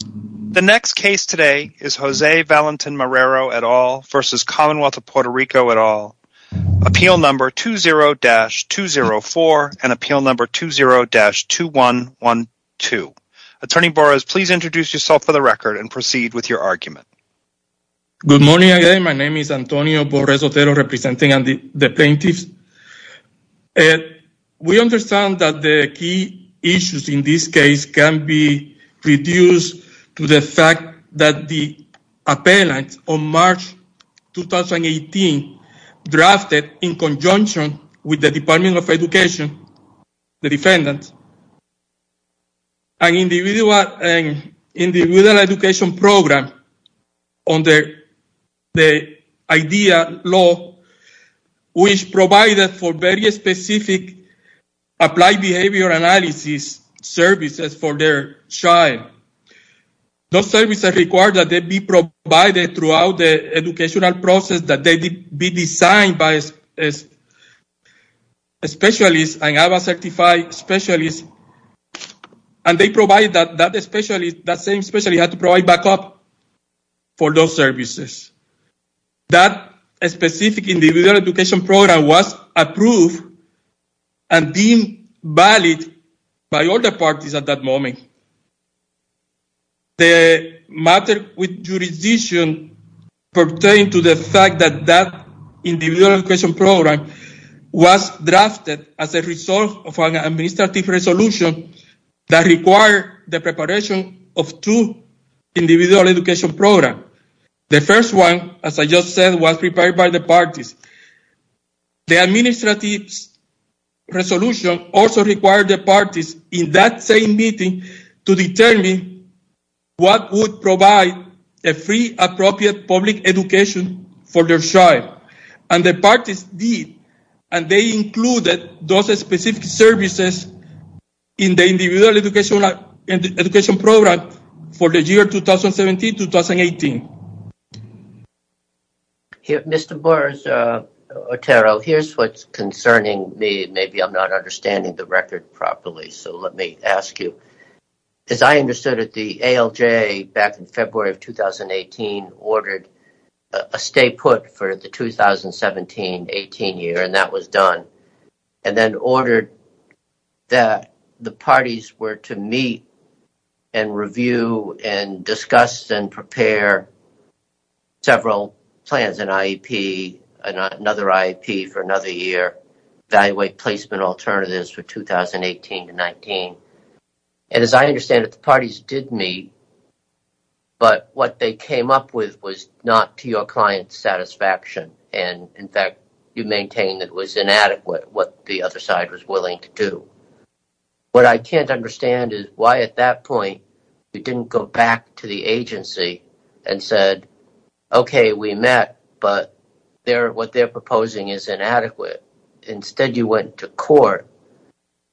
The next case today is Jose Valentin-Marrero et al. versus Commonwealth of Puerto Rico et al. Appeal number 20-204 and appeal number 20-2112. Attorney Borres, please introduce yourself for the record and proceed with your argument. Good morning, my name is Antonio Borres Otero representing the plaintiffs. We understand that the key issues in this case can be reduced to the fact that the appellant on March 2018 drafted in conjunction with the Department of Education, the defendant, an individual education program under the IDEA law which provided for very specific applied behavior analysis services for their child. Those services required that they be provided throughout the educational process, that they be designed by specialists and have a certified specialist, and they provided that same specialist had to provide backup for those services. That specific individual education program was approved and deemed valid by other parties at that moment. The matter with jurisdiction pertained to the fact that that individual education program was drafted as a result of an administrative resolution that required the preparation of two individual education programs. The first one, as I just said, was prepared by the parties. The administrative resolution also required the parties in that same meeting to determine what would provide a free appropriate public education for their child. And the parties did, and they included those specific services in the year 2017-2018. Mr. Borges-Otero, here's what's concerning me. Maybe I'm not understanding the record properly, so let me ask you. As I understood it, the ALJ back in February of 2018 ordered a stay put for the 2017-18 year, and that was to discuss and prepare several plans, an IEP, another IEP for another year, evaluate placement alternatives for 2018-19. And as I understand it, the parties did meet, but what they came up with was not to your client's satisfaction, and in fact, you maintained it was inadequate, what the other side was willing to do. What I can't understand is why at that point you didn't go back to the agency and said, okay, we met, but what they're proposing is inadequate. Instead you went to court,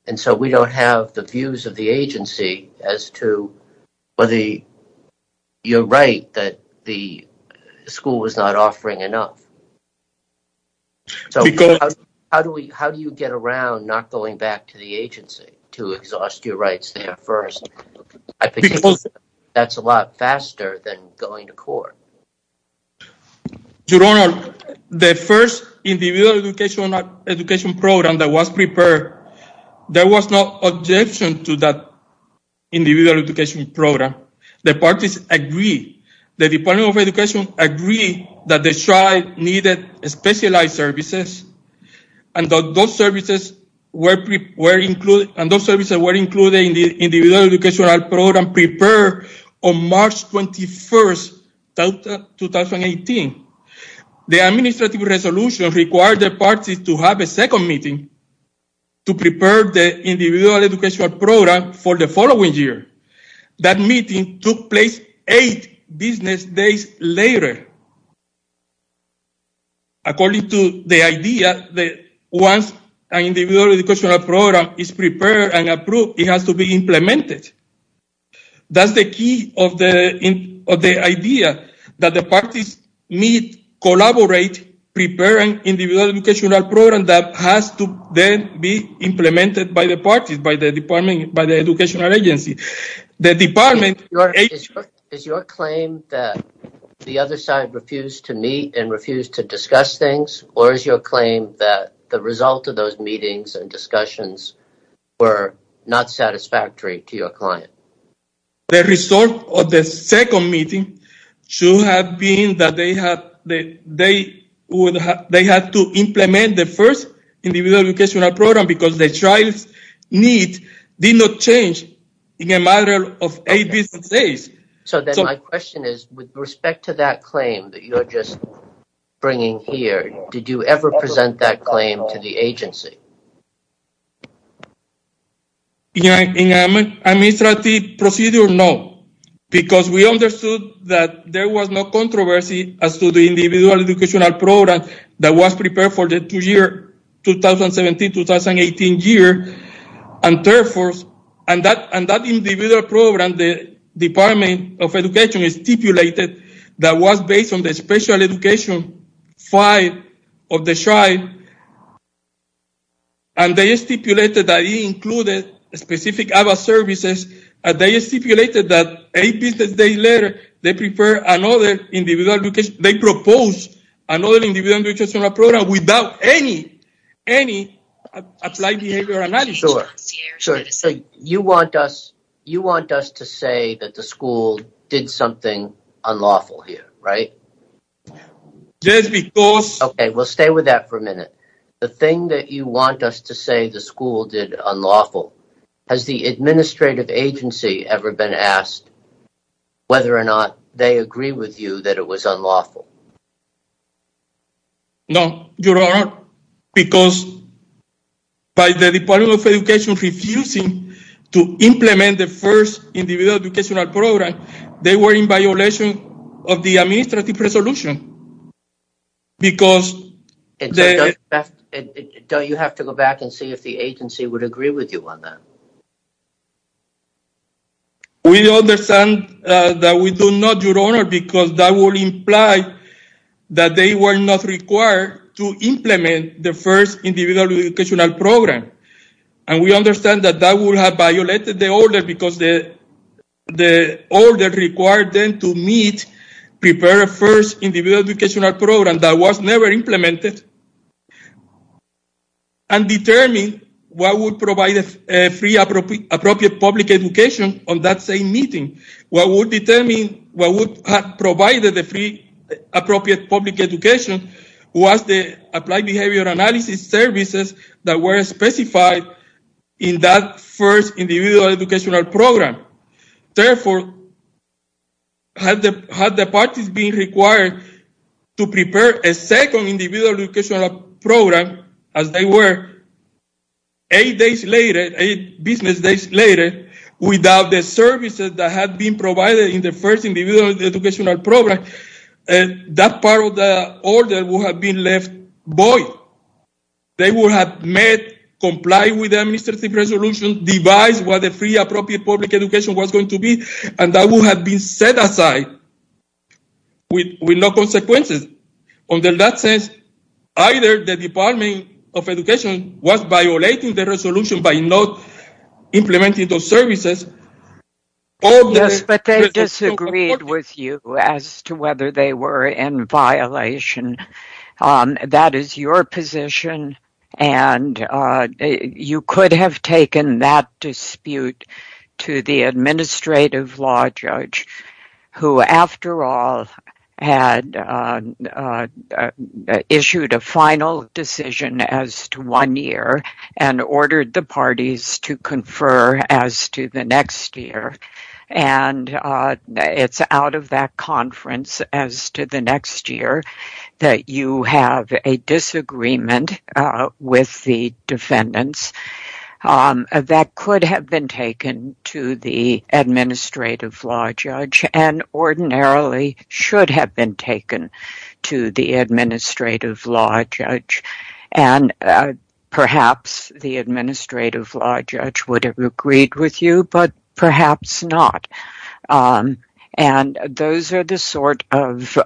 and so we don't have the views of the agency as to whether you're right that the school was not offering enough. So how do you get around not going back to the agency to exhaust your rights there first? I think that's a lot faster than going to court. Your Honor, the first individual education program that was prepared, there was no objection to that individual education program. The parties agreed, the Department of Education agreed that the child needed specialized services, and those services were included, and those services were included in the individual educational program prepared on March 21st, 2018. The administrative resolution required the parties to have a second meeting to prepare the individual educational program for the following year. That meeting took place eight business days later. According to the idea that once an individual educational program is prepared and approved, it has to be implemented. That's the key of the idea, that the parties meet, collaborate, prepare an individual educational program that has to then be implemented by the parties, by the Department, by the educational agency. The Department... Your Honor, is your claim that the other side refused to meet and refused to discuss things, or is your claim that the result of those discussions were not satisfactory to your client? The result of the second meeting should have been that they had to implement the first individual educational program because the child's needs did not change in a matter of eight business days. So then my question is, with respect to that claim that you're just bringing here, did you ever present that claim to the agency? In an administrative procedure, no, because we understood that there was no controversy as to the individual educational program that was prepared for the 2017-2018 year, and therefore, and that individual program, the Department of Education stipulated that was based on the special education file of the child, and they stipulated that it included specific services, and they stipulated that eight business days later, they prepared another individual education... they proposed another individual educational program without any applied behavioral analysis. So you want us to say that the school did something unlawful here, right? Just because... Okay, we'll stay with that for a minute. The thing that you want us to say the school did unlawful, has the administrative agency ever been asked whether or not they agree with you that it was unlawful? No, Your Honor, because by the Department of Education refusing to implement the first individual educational program, they were in violation of the administrative resolution, because... Don't you have to go back and see if the agency would agree with you on that? We understand that we do not, Your Honor, because that would imply that they were not required to implement the first individual educational program, and we understand that that would have violated the order, because the order required them to meet, prepare a first individual educational program that was appropriate public education on that same meeting. What would determine, what would have provided the free appropriate public education was the applied behavioral analysis services that were specified in that first individual educational program. Therefore, had the parties been required to prepare a business later without the services that had been provided in the first individual educational program, that part of the order would have been left void. They would have met, complied with the administrative resolution, devised what the free appropriate public education was going to be, and that would have been set aside with no consequences. In that sense, either the Department of Implementing those services... Yes, but they disagreed with you as to whether they were in violation. That is your position, and you could have taken that dispute to the administrative law judge, who after all had issued a final decision as to one year, and it's out of that conference as to the next year that you have a disagreement with the defendants. That could have been taken to the administrative law judge, and ordinarily should have been taken to the administrative law judge. And those are the sort of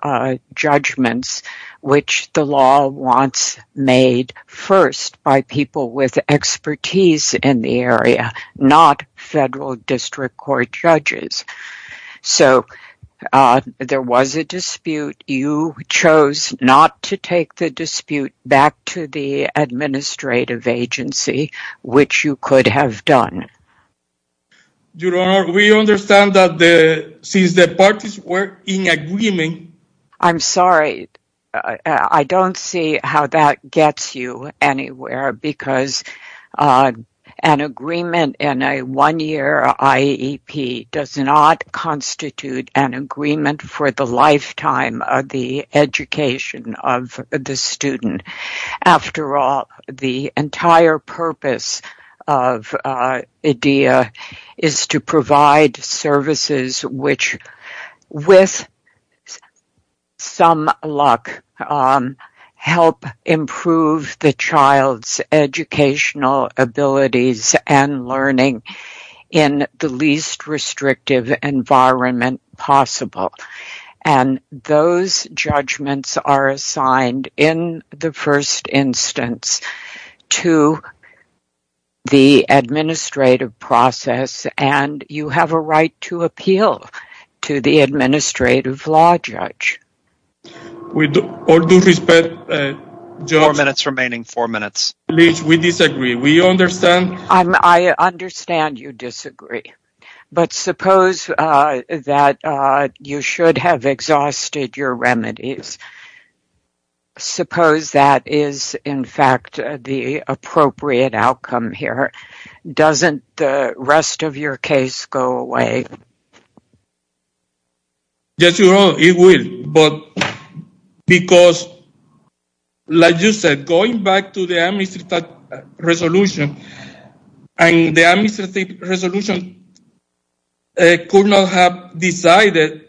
judgments which the law wants made first by people with expertise in the area, not federal district court judges. So there was a dispute. You chose not to take the dispute back to the administrative agency, which you could have done. Your Honor, we understand that since the parties were in agreement... I'm sorry, I don't see how that gets you anywhere, because an agreement in a one-year IEP does not constitute an agreement for the entire purpose of IDEA is to provide services which, with some luck, help improve the child's educational abilities and learning in the least restrictive environment possible. And those judgments are assigned, in the first instance, to the administrative process, and you have a right to appeal to the administrative law judge. With all due respect, Judge... Four minutes remaining, four minutes. We disagree. We understand... I understand you disagree, but suppose that you should have exhausted your remedies. Suppose that is, in fact, the appropriate outcome here. Doesn't the rest of your case go away? Yes, Your Honor, it will. But because, like you said, going back to the administrative resolution, and the administrative resolution could not have decided...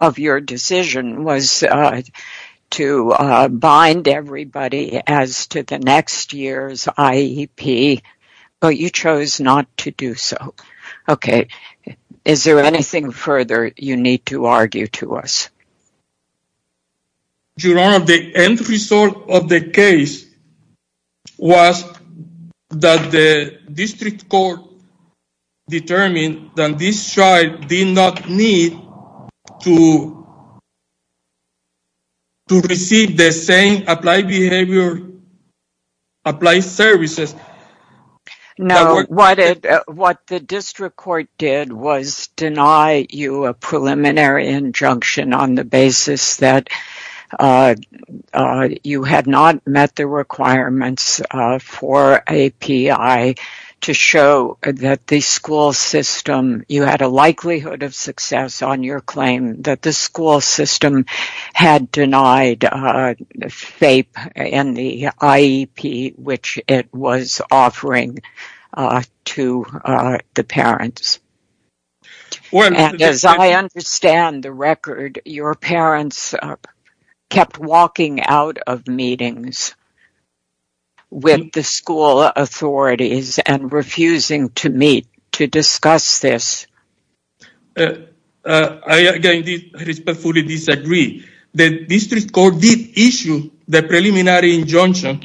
of your decision was to bind everybody as to the next year's IEP, but you chose not to do so. Okay, is there anything further you need to argue to us? Your Honor, the end result of the case was that the district court determined that this child did not need to receive the same applied behavior, applied services... What the district court did was deny you a preliminary injunction on the basis that you had not met the requirements for a PI to show that the school system... you had a likelihood of success on your claim that the school system had denied FAPE and the IEP, which it was offering to the parents. And as I understand the record, your parents kept walking out of meetings with the school authorities and refusing to meet to discuss this. I respectfully disagree. The district court did issue the preliminary injunction...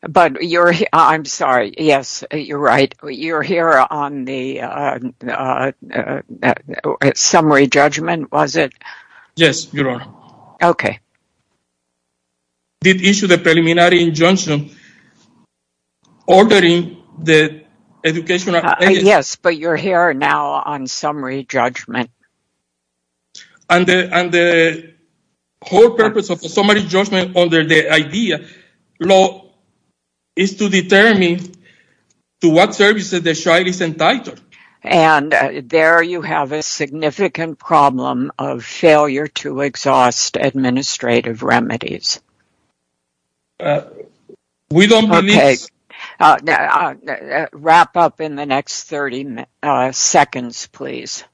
But you're... I'm sorry, yes, you're right. You're here on the summary judgment, was it? Yes, Your Honor. Okay. Did issue the preliminary injunction ordering the educational... Yes, but you're here now on summary judgment. And the whole purpose of the summary judgment under the IDEA law is to determine to what services the child is entitled. And there you have a significant problem of failure to exhaust administrative remedies. We don't believe... Wrap up in the next 30 seconds, please.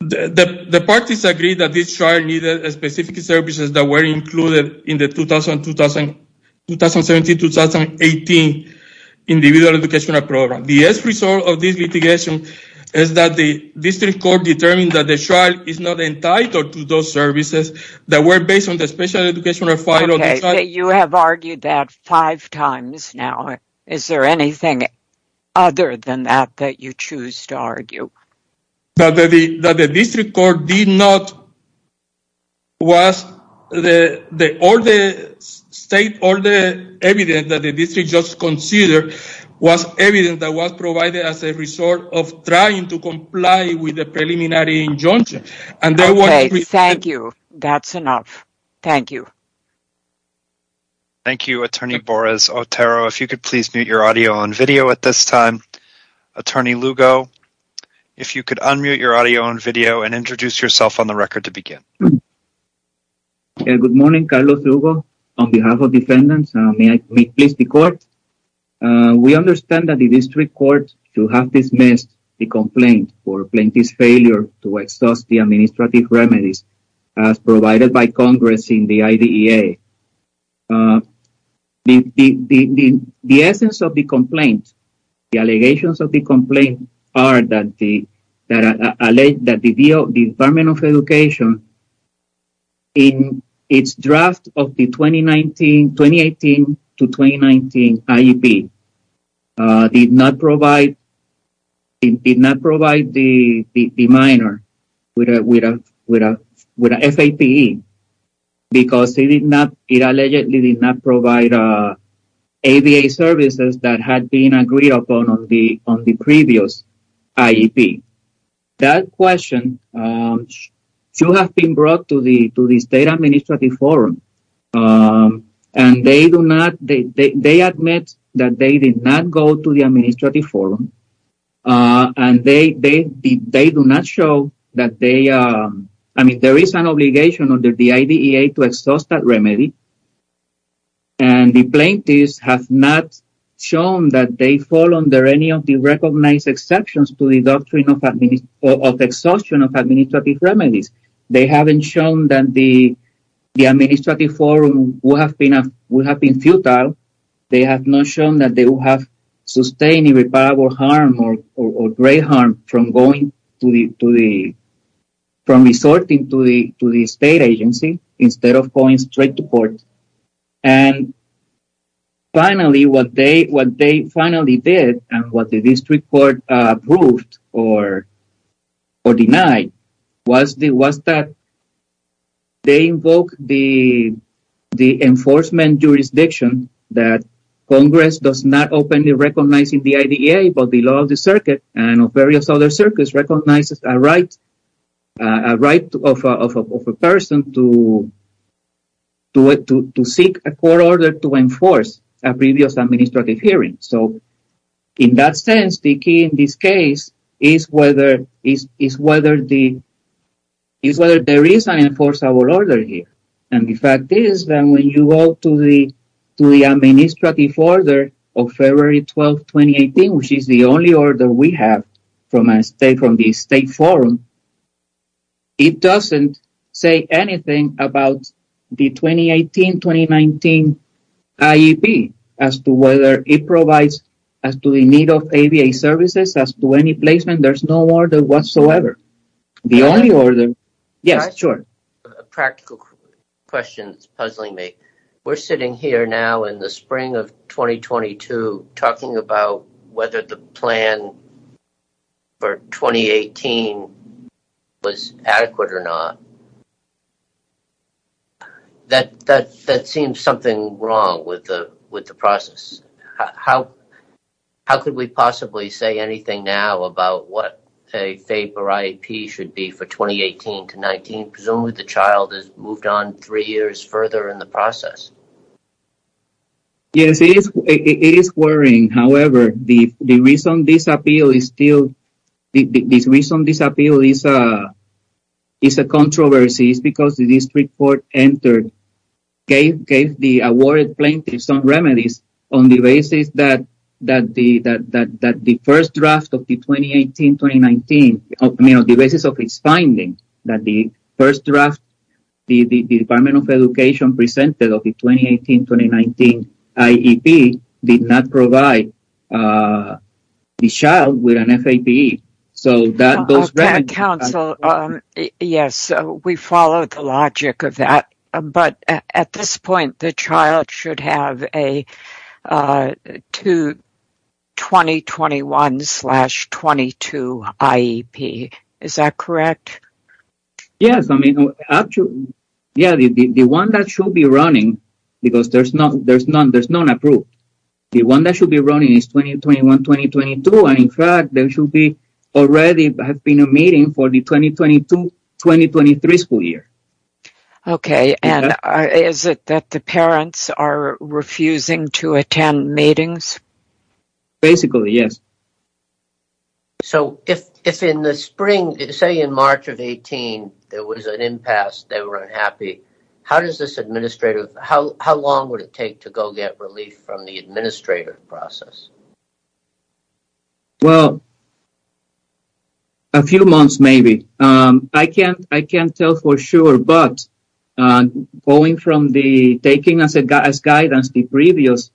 The parties agreed that this child needed specific services that were included in the 2017-2018 Individual Educational Program. The best result of this litigation is that the district court determined that the child is not entitled to those services that were based on the special educational... Okay, you have argued that five times now. Is there anything other than that that you choose to argue? That the district court did not... All the evidence that the district just considered was evidence that was provided as a result of trying to comply with the preliminary injunction. Thank you. That's enough. Thank you. Thank you, Attorney Boris Otero. If you could please mute your audio and video at this time. Attorney Lugo, if you could unmute your audio and video and introduce yourself on the record to begin. Good morning, Carlos Lugo. On behalf of defendants, may I please the court? We understand that the district court to have dismissed the complaint for plaintiff's failure to exhaust the administrative remedies as provided by Congress in the IDEA. The essence of the complaint, the allegations of the complaint are that the Department of Education in its draft of the 2018-2019 IEP did not provide the minor with a FAPE because it allegedly did not provide ADA services that had been agreed upon on the previous IEP. That question should have been brought to the state administrative forum. And they do not... They admit that they did not go to the administrative forum. And they do not show that they... I mean, there is an obligation under the IDEA to exhaust that remedy. And the plaintiffs have not shown that they fall under any of the recognized exceptions to the doctrine of exhaustion of administrative remedies. They haven't shown that the administrative forum would have been futile. They have not shown that they will have sustained irreparable harm or great harm from resorting to the state agency instead of going straight to court. And finally, what they finally did and what the district court approved or denied was that they invoked the enforcement jurisdiction that Congress does not openly recognize in the IDEA, but the law of the circuit and of various other circuits recognizes a right of a person to seek a court order to enforce a previous administrative hearing. So, in that sense, the key in this case is whether there is an enforceable order here. And the fact is that when you go to the administrative order of February 12, 2018, which is the only order we have from the state forum, it doesn't say anything about the 2018-2019 IEP as to whether it provides as to the need of ABA services as to any placement. There's no order whatsoever. The only order… Yes, sure. A practical question that's puzzling me. We're sitting here now in the spring of 2022 talking about whether the plan for 2018 was adequate or not. That seems something wrong with the process. How could we possibly say anything now about what a FAPE or IEP should be for 2018-2019? Presumably, the child is moved on three years further in the process. Yes, it is worrying. However, the reason this appeal is still… The reason this appeal is a controversy is because the district court gave the awarded plaintiff some remedies on the basis that the first draft of the 2018-2019… On the basis of its finding that the first draft, the Department of Education presented of the 2018-2019 IEP did not provide the child with an FAPE. Council, yes, we follow the logic of that. At this point, the child should have a 2021-2022 IEP. Is that correct? Yes. The one that should be running, because there's none approved, the one that should be running is 2021-2022. In fact, there should already have been a meeting for the 2022-2023 school year. Okay, and is it that the parents are refusing to attend meetings? Basically, yes. So, if in the spring, say in March of 2018, there was an impasse, they were unhappy, how long would it take to go get relief from the administrative process? Well, a few months maybe. I can't tell for sure, but going from the… Taking as guidance the previous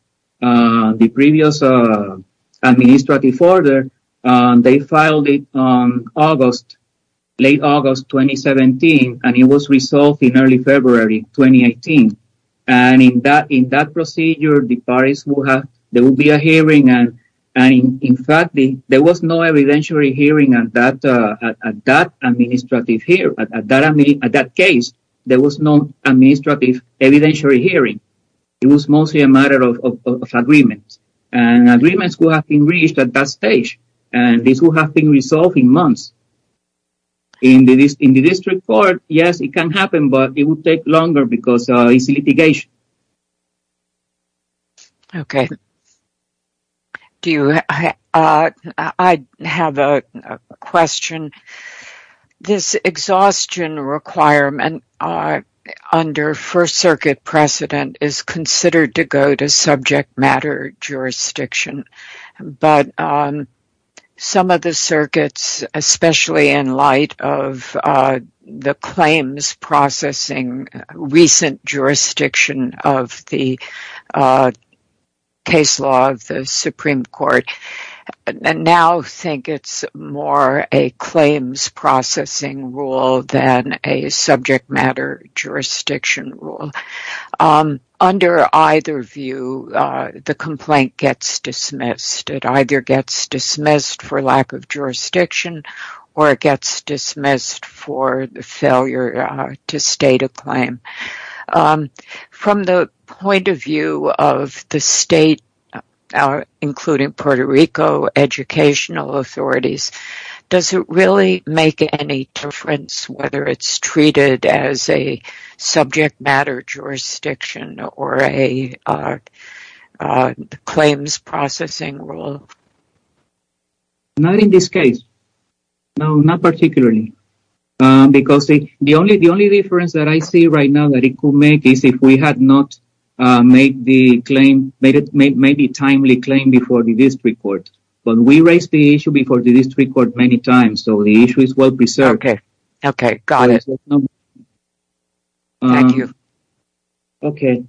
administrative order, they filed it on August, late August 2017, and it was resolved in early February 2018. And in that procedure, the parties will have, there will be a hearing, and in fact, there was no evidentiary hearing at that case. There was no administrative evidentiary hearing. It was mostly a matter of agreements. And agreements will have been reached at that stage, and this will have been resolved in months. In the district court, yes, it can happen, but it will take longer because it's litigation. Okay. I have a question. This exhaustion requirement under First Circuit precedent is considered to go to subject matter jurisdiction. But some of the circuits, especially in light of the claims processing recent jurisdiction of the case law of the Supreme Court, now think it's more a claims processing rule than a subject matter jurisdiction rule. Under either view, the complaint gets dismissed. It either gets dismissed for lack of jurisdiction or it gets dismissed for the failure to state a claim. From the point of view of the state, including Puerto Rico educational authorities, does it really make any difference whether it's treated as a subject matter jurisdiction or a claims processing rule? Not in this case. No, not particularly. Because the only difference that I see right now that it could make is if we had not made a timely claim before the district court. But we raised the issue before the district court many times, so the issue is well preserved. Okay. Okay. Got it. Thank you. Okay.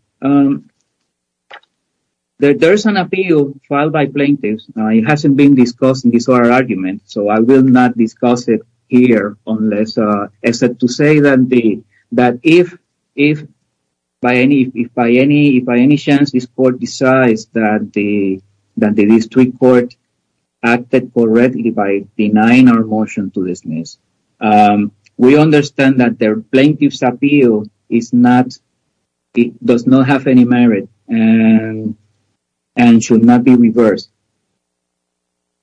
There is an appeal filed by plaintiffs. It hasn't been discussed in this argument, so I will not discuss it here unless, except to say that if by any chance this court decides that the district court acted correctly by denying our motion to dismiss, we understand that the plaintiff's appeal does not have any merit and should not be reversed.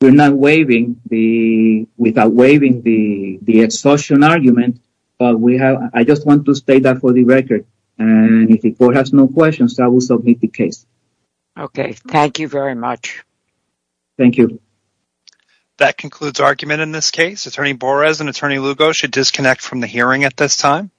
We're not waiving the, without waiving the exhaustion argument, but we have, I just want to state that for the record. And if the court has no questions, I will submit the case. Okay. Thank you very much. Thank you. That concludes argument in this case. Attorney Borres and Attorney Lugo should disconnect from the hearing at this time.